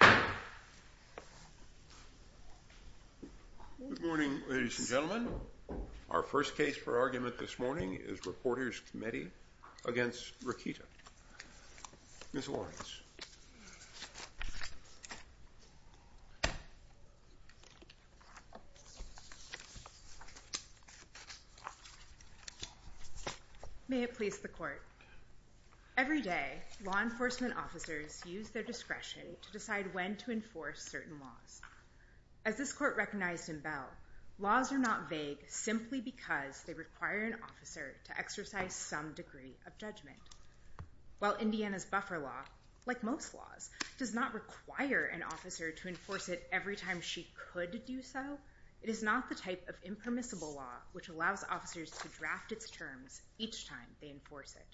Good morning, ladies and gentlemen. Our first case for argument this morning is Reporters Committee v. Rokita. Ms. Lawrence. May it please the Court. Every day, law enforcement officers use their discretion to decide what and when to enforce certain laws. As this Court recognized in Bell, laws are not vague simply because they require an officer to exercise some degree of judgment. While Indiana's buffer law, like most laws, does not require an officer to enforce it every time she could do so, it is not the type of impermissible law which allows officers to draft its terms each time they enforce it.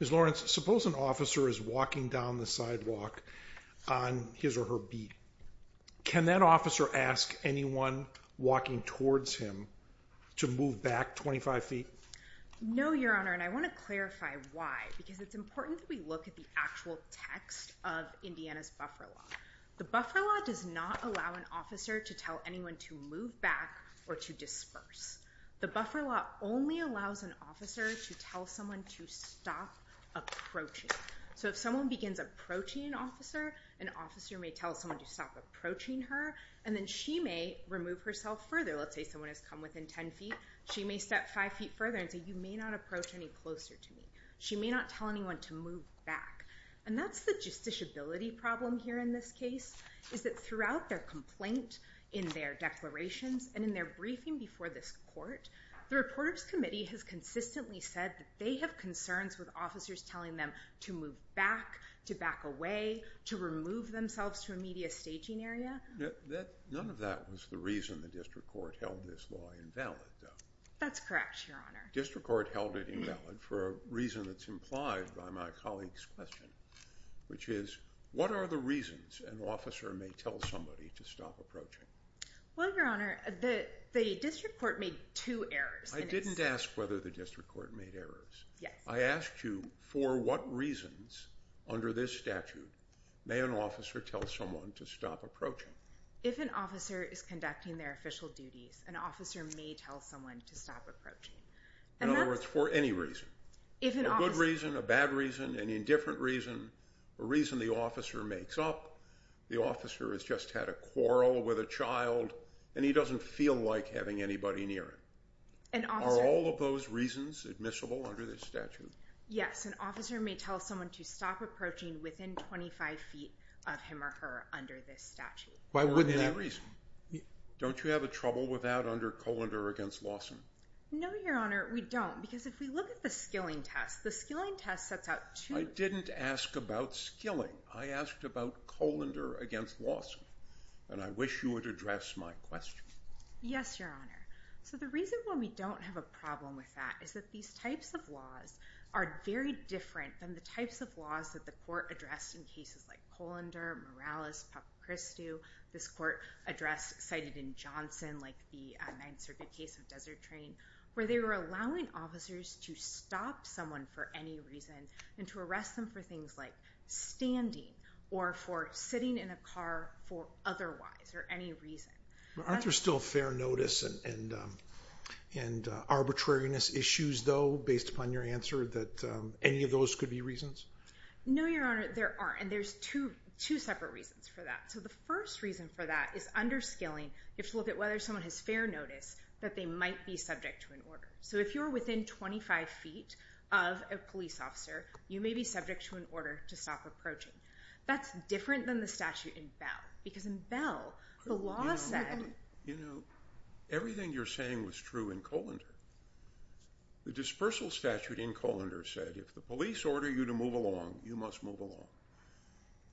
Ms. Lawrence, suppose an officer is walking down the sidewalk on his or her beat. Can that officer ask anyone walking towards him to move back 25 feet? No, Your Honor, and I want to clarify why, because it's important that we look at the actual text of Indiana's buffer law. The buffer law does not allow an officer to tell anyone to move back or to disperse. The buffer law only allows an officer to tell someone to stop approaching. So if someone begins approaching an officer, an officer may tell someone to stop approaching her, and then she may remove herself further. Let's say someone has come within 10 feet, she may step 5 feet further and say, you may not approach any closer to me. She may not tell anyone to move back. And that's the justiciability problem here in this case, is that throughout their complaint, in their declarations, and in their briefing before this Court, the Reporters Committee has consistently said that they have concerns with officers telling them to move back, to back away, to remove themselves to a media staging area. None of that was the reason the District Court held this law invalid, though. That's correct, Your Honor. The District Court held it invalid for a reason that's implied by my colleague's question, which is, what are the reasons an officer may tell somebody to stop approaching? Well, Your Honor, the District Court made two errors. I didn't ask whether the District Court made errors. Yes. I asked you, for what reasons, under this statute, may an officer tell someone to stop approaching? If an officer is conducting their official duties, an officer may tell someone to stop approaching. In other words, for any reason. A good reason, a bad reason, an indifferent reason, a reason the officer makes up, the officer has just had a quarrel with a child, and he doesn't feel like having anybody near him. Are all of those reasons admissible under this statute? Yes, an officer may tell someone to stop approaching within 25 feet of him or her under this statute. Why wouldn't that? For any reason. Don't you have a trouble with that under Colander against Lawson? No, Your Honor, we don't, because if we look at the skilling test, the skilling test sets out two... I didn't ask about skilling. I asked about Colander against Lawson, and I wish you would address my question. Yes, Your Honor. So the reason why we don't have a problem with that is that these types of laws are very different than the types of laws that the court addressed in cases like Colander, Morales, Papachristou, this court address cited in Johnson, like the Ninth Circuit case of Desert Train, where they were allowing officers to stop someone for any reason and to arrest them for things like standing or for sitting in a car for otherwise or any reason. Aren't there still fair notice and arbitrariness issues, though, based upon your answer that any of those could be reasons? No, Your Honor, there aren't, and there's two separate reasons for that. So the first reason for that is under skilling, you have to look at whether someone has fair notice that they might be subject to an order. So if you're within 25 feet of a police officer, you may be subject to an order to stop approaching. That's different than the statute in Bell, because in Bell, the law said... You know, everything you're saying was true in Colander. The dispersal statute in Colander said if the police order you to move along, you must move along.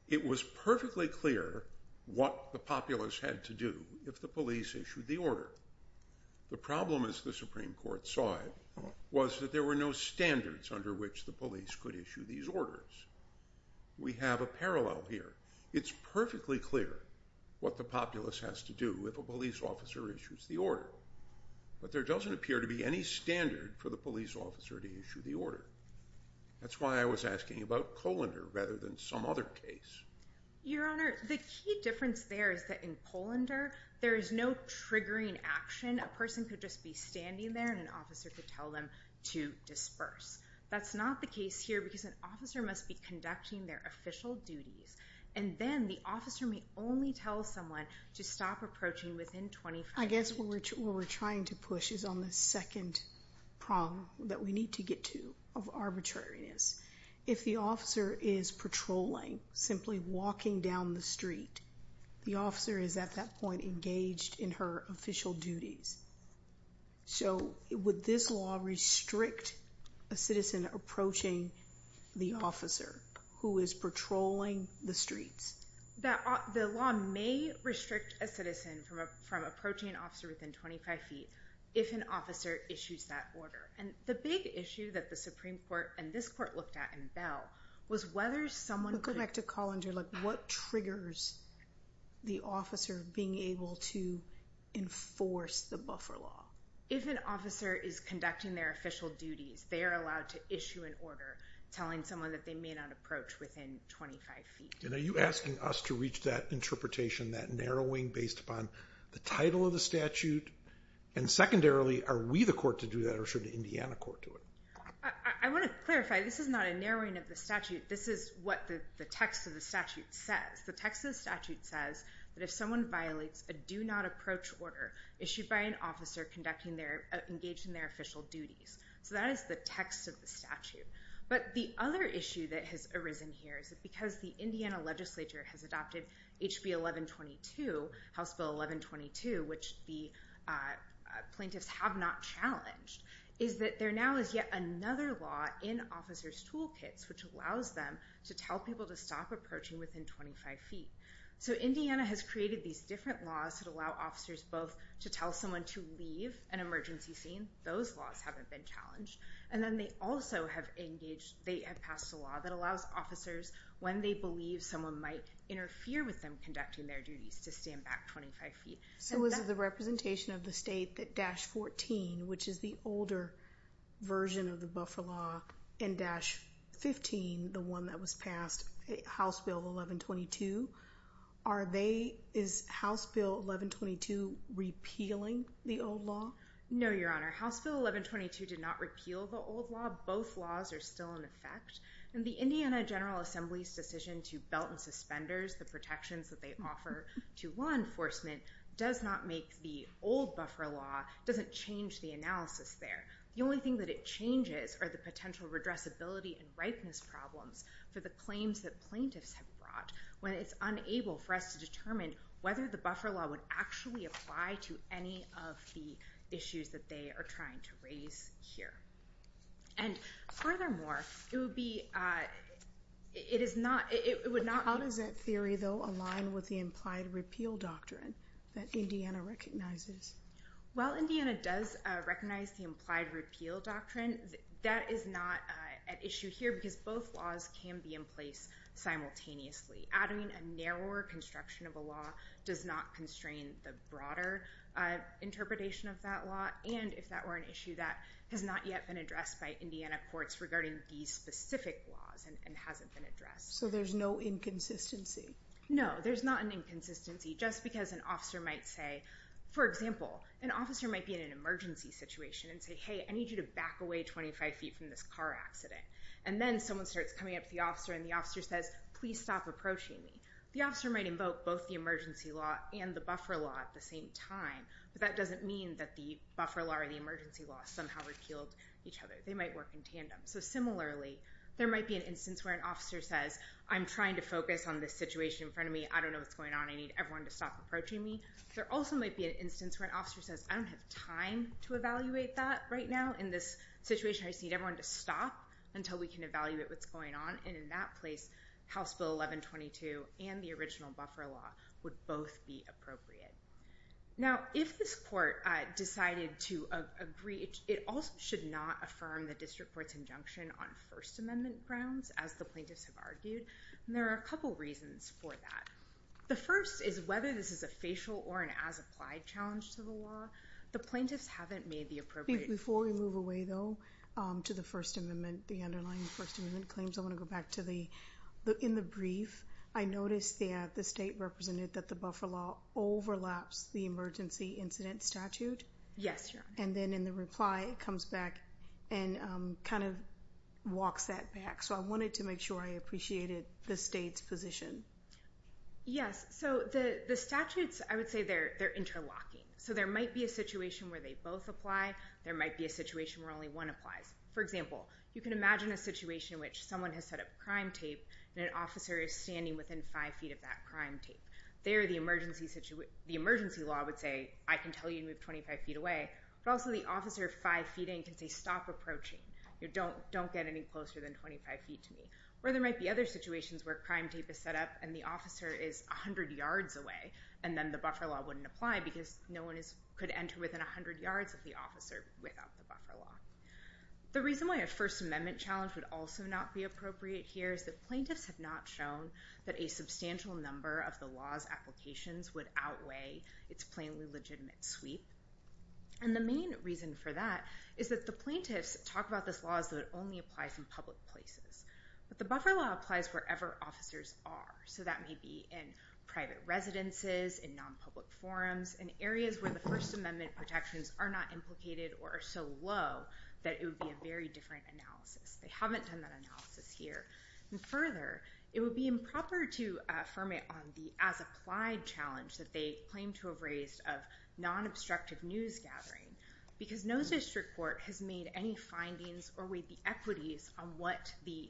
It was perfectly clear what the populace had to do if the police issued the order. The problem, as the Supreme Court saw it, was that there were no standards under which the police could issue these orders. We have a parallel here. It's perfectly clear what the populace has to do if a police officer issues the order, but there doesn't appear to be any standard for the police officer to issue the order. That's why I was asking about Colander rather than some other case. Your Honor, the key difference there is that in Colander, there is no triggering action. A person could just be standing there and an officer could tell them to disperse. That's not the case here, because an officer must be conducting their official duties, and then the officer may only tell someone to stop approaching within 25 feet. I guess what we're trying to push is on the second prong that we need to get to of arbitrariness. If the officer is patrolling, simply walking down the street, the officer is at that point engaged in her official duties. So it would this law restrict a citizen approaching the officer who is patrolling the streets? The law may restrict a citizen from approaching an officer within 25 feet if an officer issues that order. The big issue that the Supreme Court and this court looked at in Bell was whether someone could- Go back to Colander. What triggers the officer being able to enforce the buffer law? If an officer is conducting their official duties, they are allowed to issue an order telling someone that they may not approach within 25 feet. Are you asking us to reach that interpretation, that narrowing based upon the title of the statute? And secondarily, are we the court to do that or should the Indiana court do it? I want to clarify, this is not a narrowing of the statute. This is what the text of the statute says. The text of the statute says that if someone violates a do not approach order issued by an officer engaged in their official duties. So that is the text of the statute. But the other issue that has arisen here is that because the Indiana legislature has adopted HB 1122, House Bill 1122, which the plaintiffs have not challenged, is that there now is yet another law in officer's toolkits which allows them to tell people to stop approaching within 25 feet. So Indiana has created these different laws that allow officers both to tell someone to leave an emergency scene. Those laws haven't been challenged. And then they also have engaged, they have passed a law that allows officers, when they believe someone might interfere with them conducting their duties, to stand back 25 feet. So is it the representation of the state that Dash 14, which is the older version of the Dash 15, the one that was passed, House Bill 1122, are they, is House Bill 1122 repealing the old law? No, Your Honor. House Bill 1122 did not repeal the old law. Both laws are still in effect. And the Indiana General Assembly's decision to belt and suspenders the protections that they offer to law enforcement does not make the old buffer law, doesn't change the analysis there. The only thing that it changes are the potential redressability and ripeness problems for the claims that plaintiffs have brought, when it's unable for us to determine whether the buffer law would actually apply to any of the issues that they are trying to raise here. And furthermore, it would be, it is not, it would not... How does that theory, though, align with the implied repeal doctrine that Indiana recognizes? While Indiana does recognize the implied repeal doctrine, that is not an issue here because both laws can be in place simultaneously. Adding a narrower construction of a law does not constrain the broader interpretation of that law. And if that were an issue that has not yet been addressed by Indiana courts regarding these specific laws and hasn't been addressed. So there's no inconsistency? No, there's not an inconsistency. Just because an officer might say, for example, an officer might be in an emergency situation and say, hey, I need you to back away 25 feet from this car accident. And then someone starts coming up to the officer and the officer says, please stop approaching me. The officer might invoke both the emergency law and the buffer law at the same time, but that doesn't mean that the buffer law or the emergency law somehow repealed each other. They might work in tandem. So similarly, there might be an instance where an officer says, I'm trying to focus on this situation in front of me. I don't know what's going on. I need everyone to stop approaching me. There also might be an instance where an officer says, I don't have time to evaluate that right now in this situation. I just need everyone to stop until we can evaluate what's going on. And in that place, House Bill 1122 and the original buffer law would both be appropriate. Now if this court decided to agree, it also should not affirm the district court's injunction on First Amendment grounds, as the plaintiffs have argued. And there are a couple reasons for that. The first is whether this is a facial or an as-applied challenge to the law. The plaintiffs haven't made the appropriate- Before we move away, though, to the First Amendment, the underlying First Amendment claims, I want to go back to the, in the brief, I noticed that the state represented that the buffer law overlaps the emergency incident statute. Yes, Your Honor. And then in the reply, it comes back and kind of walks that back. So I wanted to make sure I appreciated the state's position. Yes. So the statutes, I would say they're interlocking. So there might be a situation where they both apply. There might be a situation where only one applies. For example, you can imagine a situation in which someone has set up crime tape and an officer is standing within five feet of that crime tape. There, the emergency law would say, I can tell you to move 25 feet away, but also the officer five feet in can say, stop approaching. You don't, don't get any closer than 25 feet to me. Or there might be other situations where crime tape is set up and the officer is 100 yards away, and then the buffer law wouldn't apply because no one is, could enter within 100 yards of the officer without the buffer law. The reason why a First Amendment challenge would also not be appropriate here is that plaintiffs have not shown that a substantial number of the law's applications would outweigh its plainly legitimate sweep. And the main reason for that is that the plaintiffs talk about this law as though it only applies in public places, but the buffer law applies wherever officers are. So that may be in private residences, in non-public forums, in areas where the First Amendment protections are not implicated or are so low that it would be a very different analysis. They haven't done that analysis here. And further, it would be improper to affirm it on the as-applied challenge that they claim to have raised of non-obstructive news gathering because no district court has made any findings or weighed the equities on what the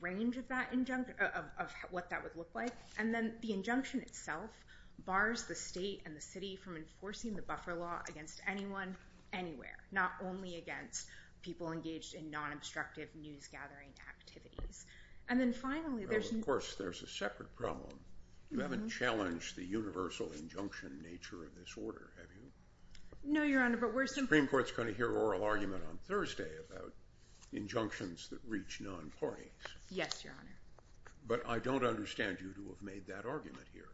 range of that injunction, of, of what that would look like. And then the injunction itself bars the state and the city from enforcing the buffer law against anyone anywhere, not only against people engaged in non-obstructive news gathering activities. And then finally, there's, of course, there's a separate problem. You haven't challenged the universal injunction nature of this order, have you? No, Your Honor, but we're, Supreme Court's going to hear oral argument on Thursday about injunctions that reach non-parties. Yes, Your Honor. But I don't understand you to have made that argument here.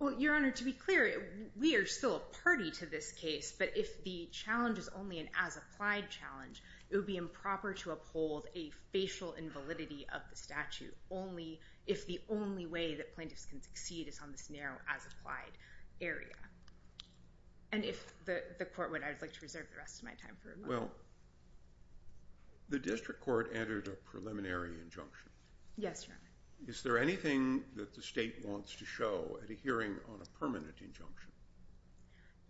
Well, Your Honor, to be clear, we are still a party to this case, but if the challenge is only an as-applied challenge, it would be improper to uphold a facial invalidity of the statute only if the only way that plaintiffs can succeed is on this narrow as-applied area. And if the court would, I would like to reserve the rest of my time for a moment. Well, the district court entered a preliminary injunction. Yes, Your Honor. Is there anything that the state wants to show at a hearing on a permanent injunction?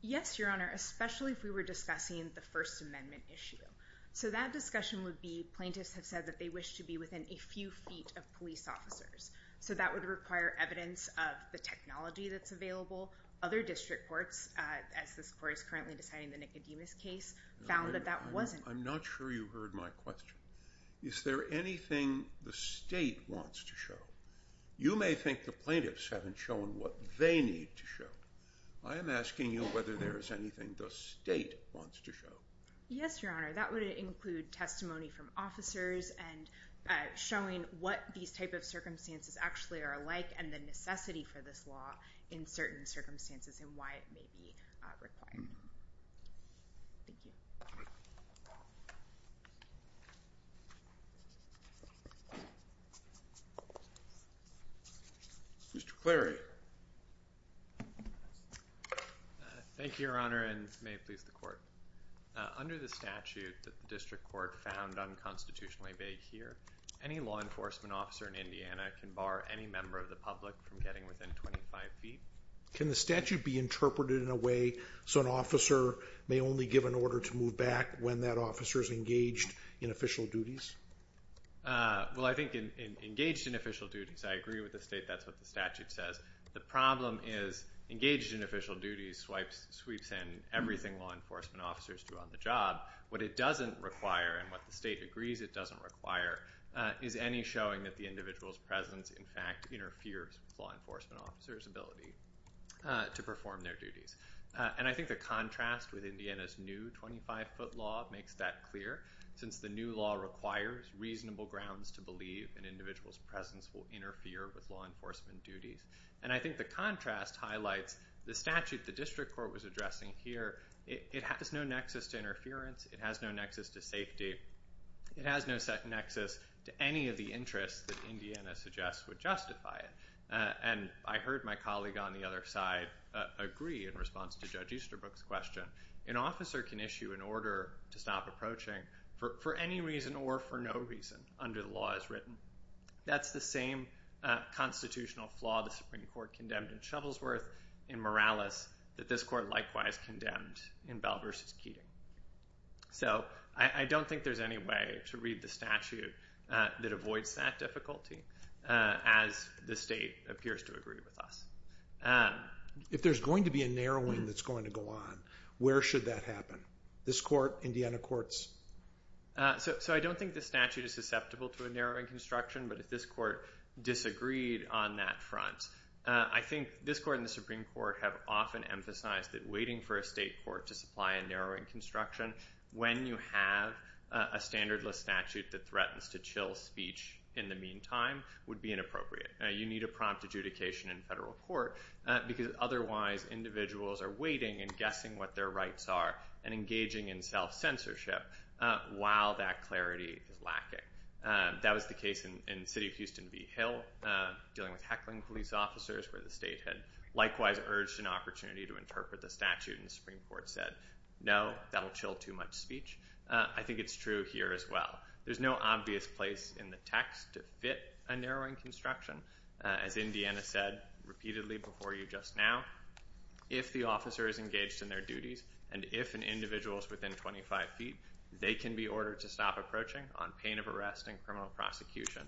Yes, Your Honor, especially if we were discussing the First Amendment issue. So that discussion would be, plaintiffs have said that they wish to be within a few feet of police officers. So that would require evidence of the technology that's available. Other district courts, as this court is currently deciding the Nicodemus case, found that that wasn't. I'm not sure you heard my question. Is there anything the state wants to show? You may think the plaintiffs haven't shown what they need to show. I am asking you whether there is anything the state wants to show. Yes, Your Honor, that would include testimony from officers and showing what these type of circumstances actually are like and the necessity for this law in certain circumstances and why it may be required. Thank you. Mr. Cleary. Thank you, Your Honor, and may it please the court. Under the statute that the district court found unconstitutionally vague here, any law enforcement officer in Indiana can bar any member of the public from getting within 25 feet. Can the statute be interpreted in a way so an officer may only give an order to move back when that officer is engaged in official duties? Well, I think engaged in official duties, I agree with the state, that's what the statute says. The problem is engaged in official duties swipes in everything law enforcement officers do on the job. What it doesn't require and what the state agrees it doesn't require is any showing that the individual's presence in fact interferes with law enforcement officers' ability to perform their duties. And I think the contrast with Indiana's new 25-foot law makes that clear since the new law requires reasonable grounds to believe an individual's presence will interfere with law enforcement duties. And I think the contrast highlights the statute the district court was addressing here. It has no nexus to interference. It has no nexus to safety. It has no set nexus to any of the interests that Indiana suggests would justify it. And I heard my colleague on the other side agree in response to Judge Easterbrook's question. An officer can issue an order to stop approaching for any reason or for no reason under the law as written. That's the same constitutional flaw the Supreme Court condemned in Shovelsworth in Morales that this court likewise condemned in Bell v. Keating. So I don't think there's any way to read the statute that avoids that difficulty as the state appears to agree with us. If there's going to be a narrowing that's going to go on, where should that happen? This court, Indiana courts? So I don't think the statute is susceptible to a narrowing construction, but if this court disagreed on that front, I think this court and the Supreme Court have often emphasized that waiting for a state court to supply a narrowing construction when you have a standardless statute that threatens to chill speech in the meantime would be inappropriate. You need a prompt adjudication in federal court because otherwise individuals are waiting and guessing what their rights are and engaging in self-censorship while that clarity is lacking. That was the case in the city of Houston v. Hill dealing with heckling police officers where the state could likewise urge an opportunity to interpret the statute and the Supreme Court said no, that will chill too much speech. I think it's true here as well. There's no obvious place in the text to fit a narrowing construction. As Indiana said repeatedly before you just now, if the officer is engaged in their duties and if an individual is within 25 feet, they can be ordered to stop approaching on pain of arrest and criminal prosecution.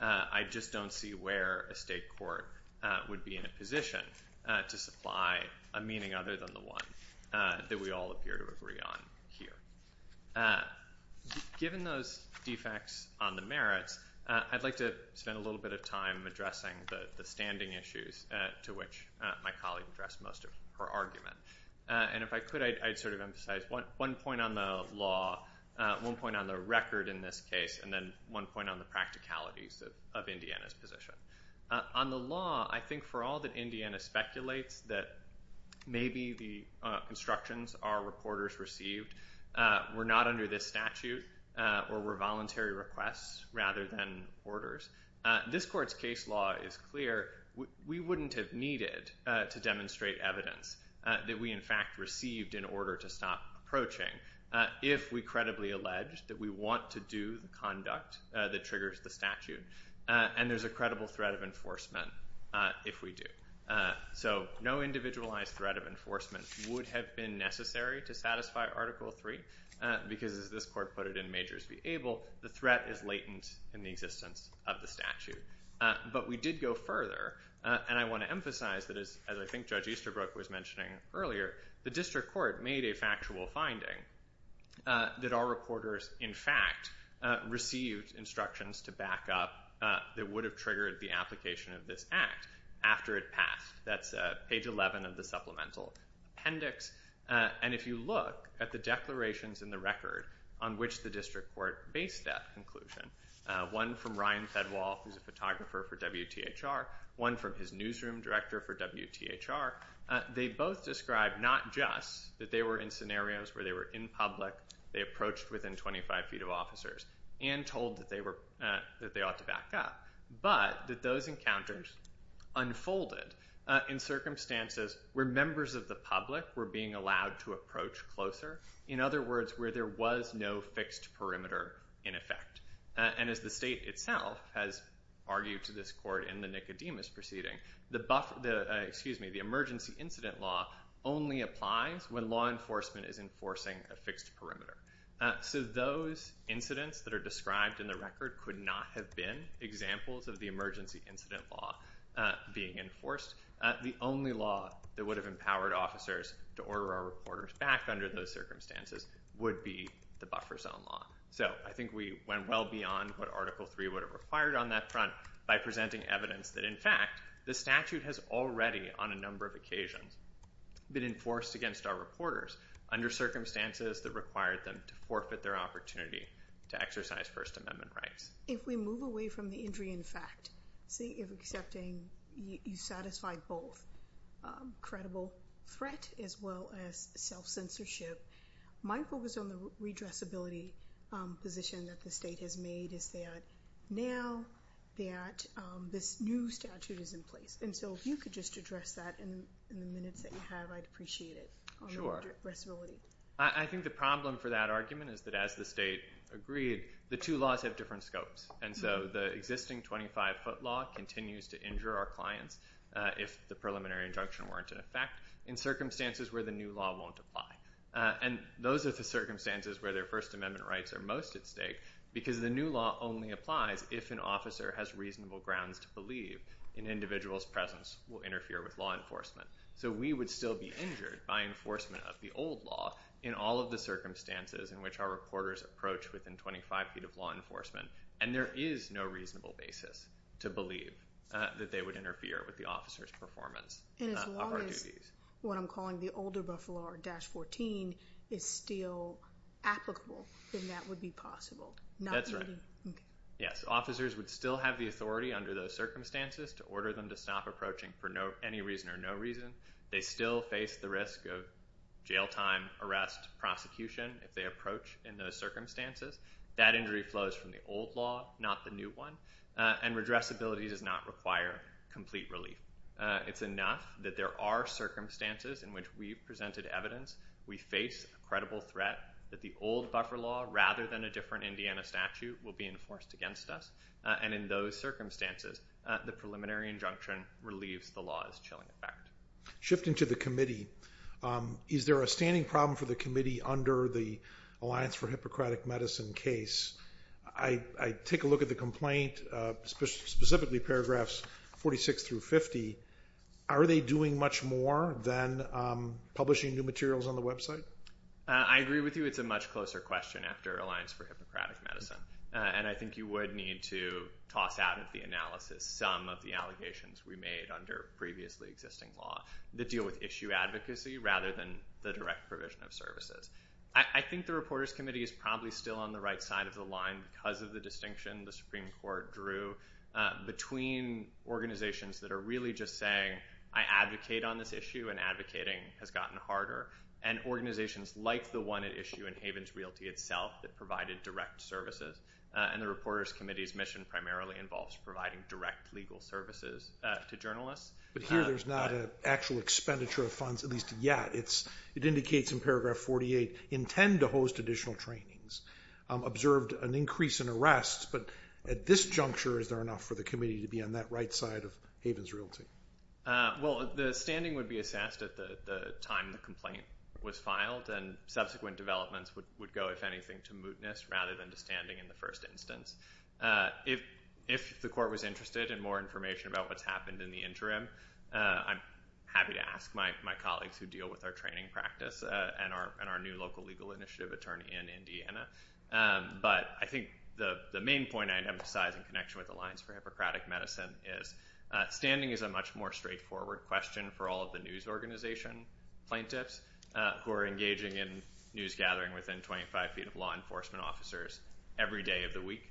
I just don't see where a state court would be in a position to supply a meaning other than the one that we all appear to agree on here. Given those defects on the merits, I'd like to spend a little bit of time addressing the standing issues to which my colleague addressed most of her argument. If I could, I'd sort of emphasize one point on the law, one point on the record in this case, and then one point on the practicalities of Indiana's position. On the law, I think for all that Indiana speculates that maybe the constructions are reporters received were not under this statute or were voluntary requests rather than orders. This court's case law is clear. We wouldn't have needed to demonstrate evidence that we in fact received in order to stop approaching if we credibly alleged that we want to do conduct that triggers the statute. And there's a credible threat of enforcement if we do. So no individualized threat of enforcement would have been necessary to satisfy Article 3 because as this court put it in Majors v. Able, the threat is latent in the existence of the statute. But we did go further, and I want to emphasize that as I think Judge Easterbrook was mentioning earlier, the district court made a factual finding that our reporters in fact received instructions to back up that would have triggered the application of this act after it passed. That's page 11 of the supplemental appendix. And if you look at the declarations in the record on which the district court based that conclusion, one from Ryan Fedwal, who's a photographer for WTHR, one from his newsroom director for WTHR, they both described not just that they were in scenarios where they were in public, they approached within 25 feet of officers, and told that they ought to back up, but that those encounters unfolded in circumstances where members of the public were being allowed to approach closer, in other words, where there was no fixed perimeter in effect. And as the state itself has argued to this court in the Nicodemus proceeding, the emergency incident law only applies when law enforcement is enforcing a fixed perimeter. So those incidents that are described in the record could not have been examples of the emergency incident law being enforced. The only law that would have empowered officers to order our reporters back under those circumstances would be the buffer zone law. So I think we went well beyond what Article III would have required on that front by presenting evidence that, in fact, the statute has already, on a number of occasions, been enforced against our reporters under circumstances that required them to forfeit their opportunity to exercise First Amendment rights. If we move away from the injury in fact, say if accepting you satisfy both credible threat as well as self-censorship, my focus on the redressability position that the state has made is that now that this new statute is in place. And so if you could just address that in the minutes that you have, I'd appreciate it on redressability. I think the problem for that argument is that as the state agreed, the two laws have different scopes. And so the existing 25-foot law continues to injure our clients if the preliminary injunction weren't in effect in circumstances where the new law won't apply. And those are the circumstances where their First Amendment rights are most at stake because the new law only applies if an officer has reasonable grounds to believe an individual's presence will interfere with law enforcement. So we would still be injured by enforcement of the old law in all of the circumstances in which our reporters approach within 25 feet of law enforcement. And there is no reasonable basis to believe that they would interfere with the officer's performance of our duties. What I'm calling the older Buffalo or Dash 14 is still applicable, then that would be possible. That's right. Okay. Yes. Officers would still have the authority under those circumstances to order them to stop approaching for any reason or no reason. They still face the risk of jail time, arrest, prosecution if they approach in those circumstances. That injury flows from the old law, not the new one. And redressability does not require complete relief. It's enough that there are circumstances in which we've presented evidence, we face a credible threat that the old Buffalo rather than a different Indiana statute will be enforced against us. And in those circumstances, the preliminary injunction relieves the law's chilling effect. Shifting to the committee, is there a standing problem for the committee under the Alliance for Hippocratic Medicine case? I take a look at the complaint, specifically paragraphs 46 through 50. Are they doing much more than publishing new materials on the website? I agree with you. It's a much closer question after Alliance for Hippocratic Medicine. And I think you would need to toss out of the analysis some of the allegations we made under previously existing law that deal with issue advocacy rather than the direct provision of services. I think the Reporters Committee is probably still on the right side of the issue between organizations that are really just saying, I advocate on this issue and advocating has gotten harder, and organizations like the one at issue in Havens Realty itself that provided direct services. And the Reporters Committee's mission primarily involves providing direct legal services to journalists. But here there's not an actual expenditure of funds, at least yet. It indicates in paragraph 48, intend to host additional trainings. Observed an increase in arrests, but at this juncture is there enough for the committee to be on that right side of Havens Realty? Well, the standing would be assessed at the time the complaint was filed, and subsequent developments would go, if anything, to mootness rather than to standing in the first instance. If the court was interested in more information about what's happened in the interim, I'm happy to ask my colleagues who deal with our training practice and our new local legal initiative attorney in Indiana. But I think the main point I'd emphasize in connection with Alliance for Hippocratic Medicine is standing is a much more straightforward question for all of the news organization plaintiffs, who are engaging in news gathering within 25 feet of law enforcement officers every day of the week.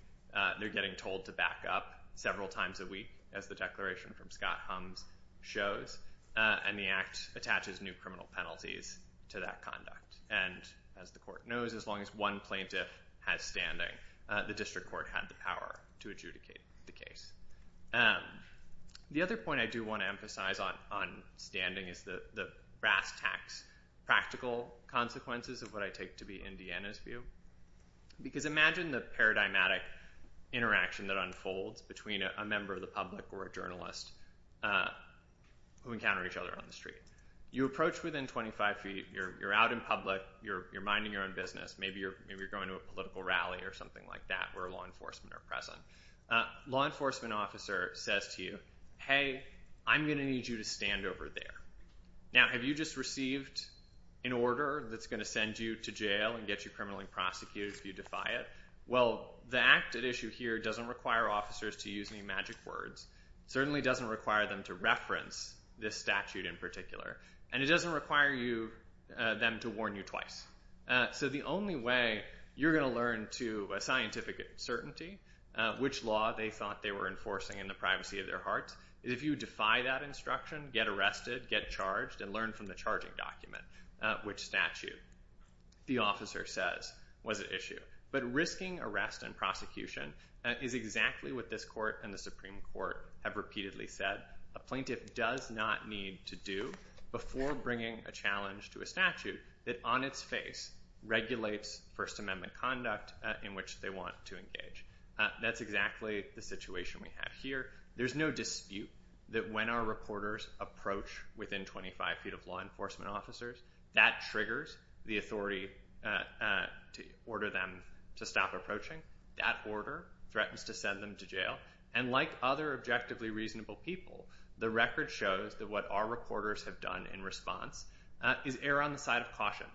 They're getting told to back up several times a week, as the declaration from Scott Humms shows, and the act attaches new criminal penalties to that conduct. And as the court knows, as long as one plaintiff has standing, the district court had the power to adjudicate the case. The other point I do want to emphasize on standing is the brass tacks practical consequences of what I take to be Indiana's view. Because imagine the paradigmatic interaction that unfolds between a member of the public or a journalist who encounter each other on the street. You're minding your own business. Maybe you're going to a political rally or something like that, where law enforcement are present. Law enforcement officer says to you, hey, I'm going to need you to stand over there. Now, have you just received an order that's going to send you to jail and get you criminally prosecuted if you defy it? Well, the act at issue here doesn't require officers to use any magic words, certainly doesn't require them to reference this statute in particular, and it doesn't require them to warn you twice. So the only way you're going to learn to scientific certainty which law they thought they were enforcing in the privacy of their hearts is if you defy that instruction, get arrested, get charged, and learn from the charging document which statute the officer says was at issue. But risking arrest and prosecution is exactly what this court and the Supreme Court have repeatedly said a plaintiff does not need to do before bringing a challenge to a statute that on its face regulates First Amendment conduct in which they want to engage. That's exactly the situation we have here. There's no dispute that when our reporters approach within 25 feet of law enforcement officers, that triggers the authority to order them to stop approaching. That order threatens to send them to jail, and like other objectively reasonable people, the record shows that what our reporters have done in response is err on the side of caution,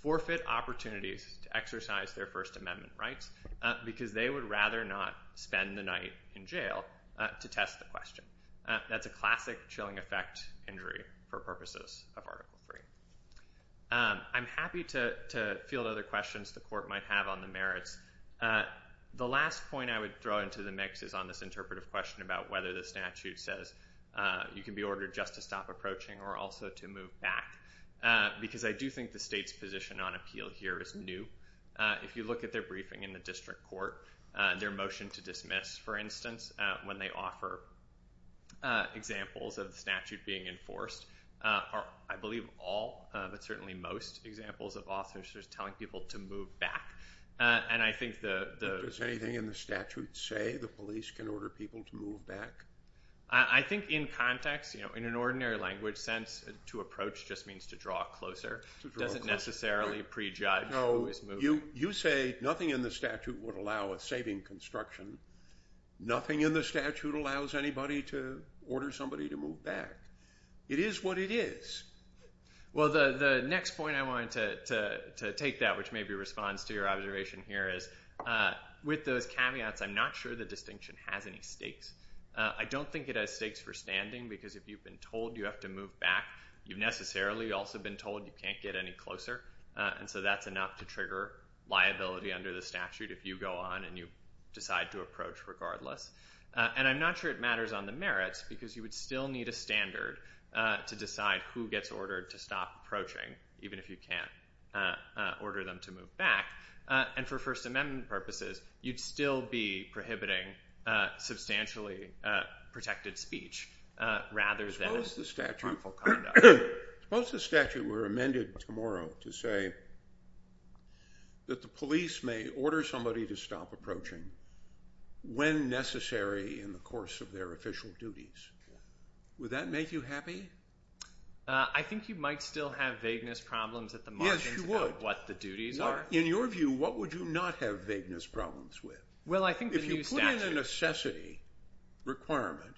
forfeit opportunities to exercise their First Amendment rights because they would rather not spend the night in jail to test the question. That's a classic chilling effect injury for purposes of Article III. I'm happy to field other questions the court might have on the merits. The last point I would throw into the mix is on this interpretive question about whether the statute says you can be ordered just to stop approaching or also to move back. Because I do think the state's position on appeal here is new. If you look at their briefing in the district court, their motion to dismiss, for instance, when they offer examples of the statute being enforced, I believe all but certainly most examples of officers telling people to move back. And I think the... Does anything in the statute say the police can order people to move back? I think in context, in an ordinary language sense, to approach just means to draw closer. To draw closer. Doesn't necessarily prejudge who is moving. You say nothing in the statute would allow a saving construction. Nothing in the statute allows anybody to order somebody to move back. It is what it is. Well, the next point I wanted to take that, which maybe responds to your observation here, is with those caveats, I'm not sure the distinction has any stakes. I don't think it has stakes for standing. Because if you've been told you have to move back, you've necessarily also been told you can't get any closer. And so that's enough to trigger liability under the statute if you go on and you decide to approach regardless. And I'm not sure it matters on the merits. Because you would still need a standard to decide who gets ordered to stop approaching, even if you can't order them to move back. And for First Amendment purposes, you'd still be prohibiting substantially protected speech rather than harmful conduct. Suppose the statute were amended tomorrow to say that the police may order somebody to stop approaching when necessary in the course of their official duties. Would that make you happy? I think you might still have vagueness problems at the margins about what the duties are. In your view, what would you not have vagueness problems with? If you put in a necessity requirement,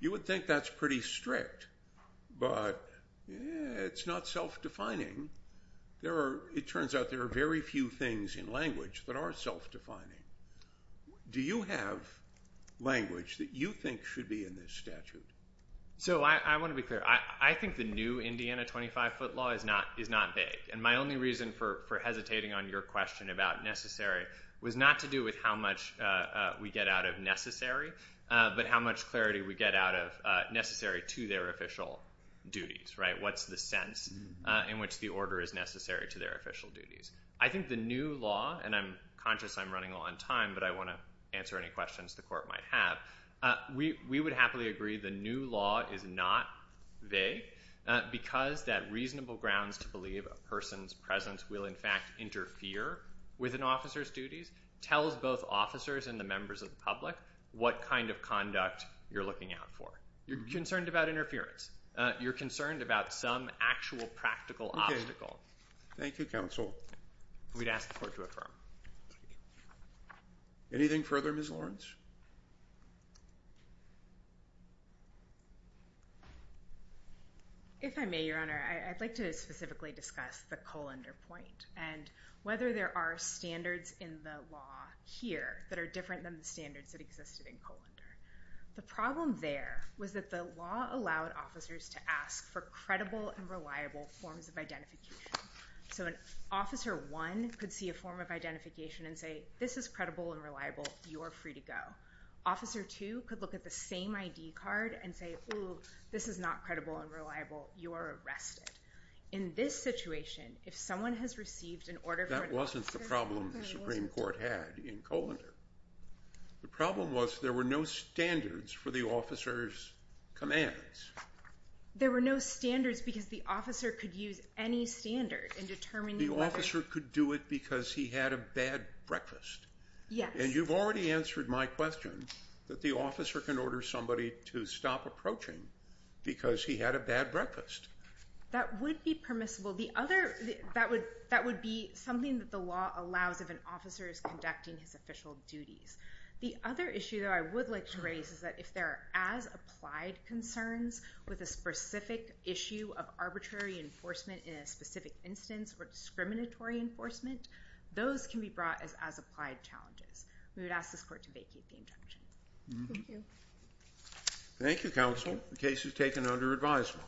you would think that's pretty strict. But it's not self-defining. There are, it turns out, there are very few things in language that are self-defining. Do you have language that you think should be in this statute? So I want to be clear. I think the new Indiana 25-foot law is not vague. And my only reason for hesitating on your question about necessary was not to do with how much we get out of necessary, but how much clarity we get out of necessary to their official duties, right? What's the sense in which the order is necessary to their official duties? I think the new law, and I'm conscious I'm running on time, but I want to answer any questions the court might have, we would happily agree the new law is not vague because that reasonable grounds to believe a person's presence will, in fact, interfere with an officer's duties tells both officers and the members of the public what kind of conduct you're looking out for. You're concerned about interference. You're concerned about some actual practical obstacle. Thank you, counsel. We'd ask the court to affirm. Anything further, Ms. Lawrence? If I may, Your Honor, I'd like to specifically discuss the Colander point and whether there are standards in the law here that are different than the standards that existed in Colander. The problem there was that the law allowed officers to ask for credible and reliable forms of identification. So an officer one could see a form of identification and say, this is credible and reliable. You are free to go. Officer two could look at the same ID card and say, oh, this is not credible and reliable. You are arrested. In this situation, if someone has received an order for- That wasn't the problem the Supreme Court had in Colander. The problem was there were no standards for the officer's commands. There were no standards because the officer could use any standard in determining- The officer could do it because he had a bad breakfast. Yes. And you've already answered my question that the officer can order somebody to stop approaching because he had a bad breakfast. That would be permissible. The other- that would be something that the law allows if an officer is conducting his duties. The other issue that I would like to raise is that if there are as-applied concerns with a specific issue of arbitrary enforcement in a specific instance or discriminatory enforcement, those can be brought as as-applied challenges. We would ask this court to vacate the injunction. Thank you. Thank you, counsel. The case is taken under advisement.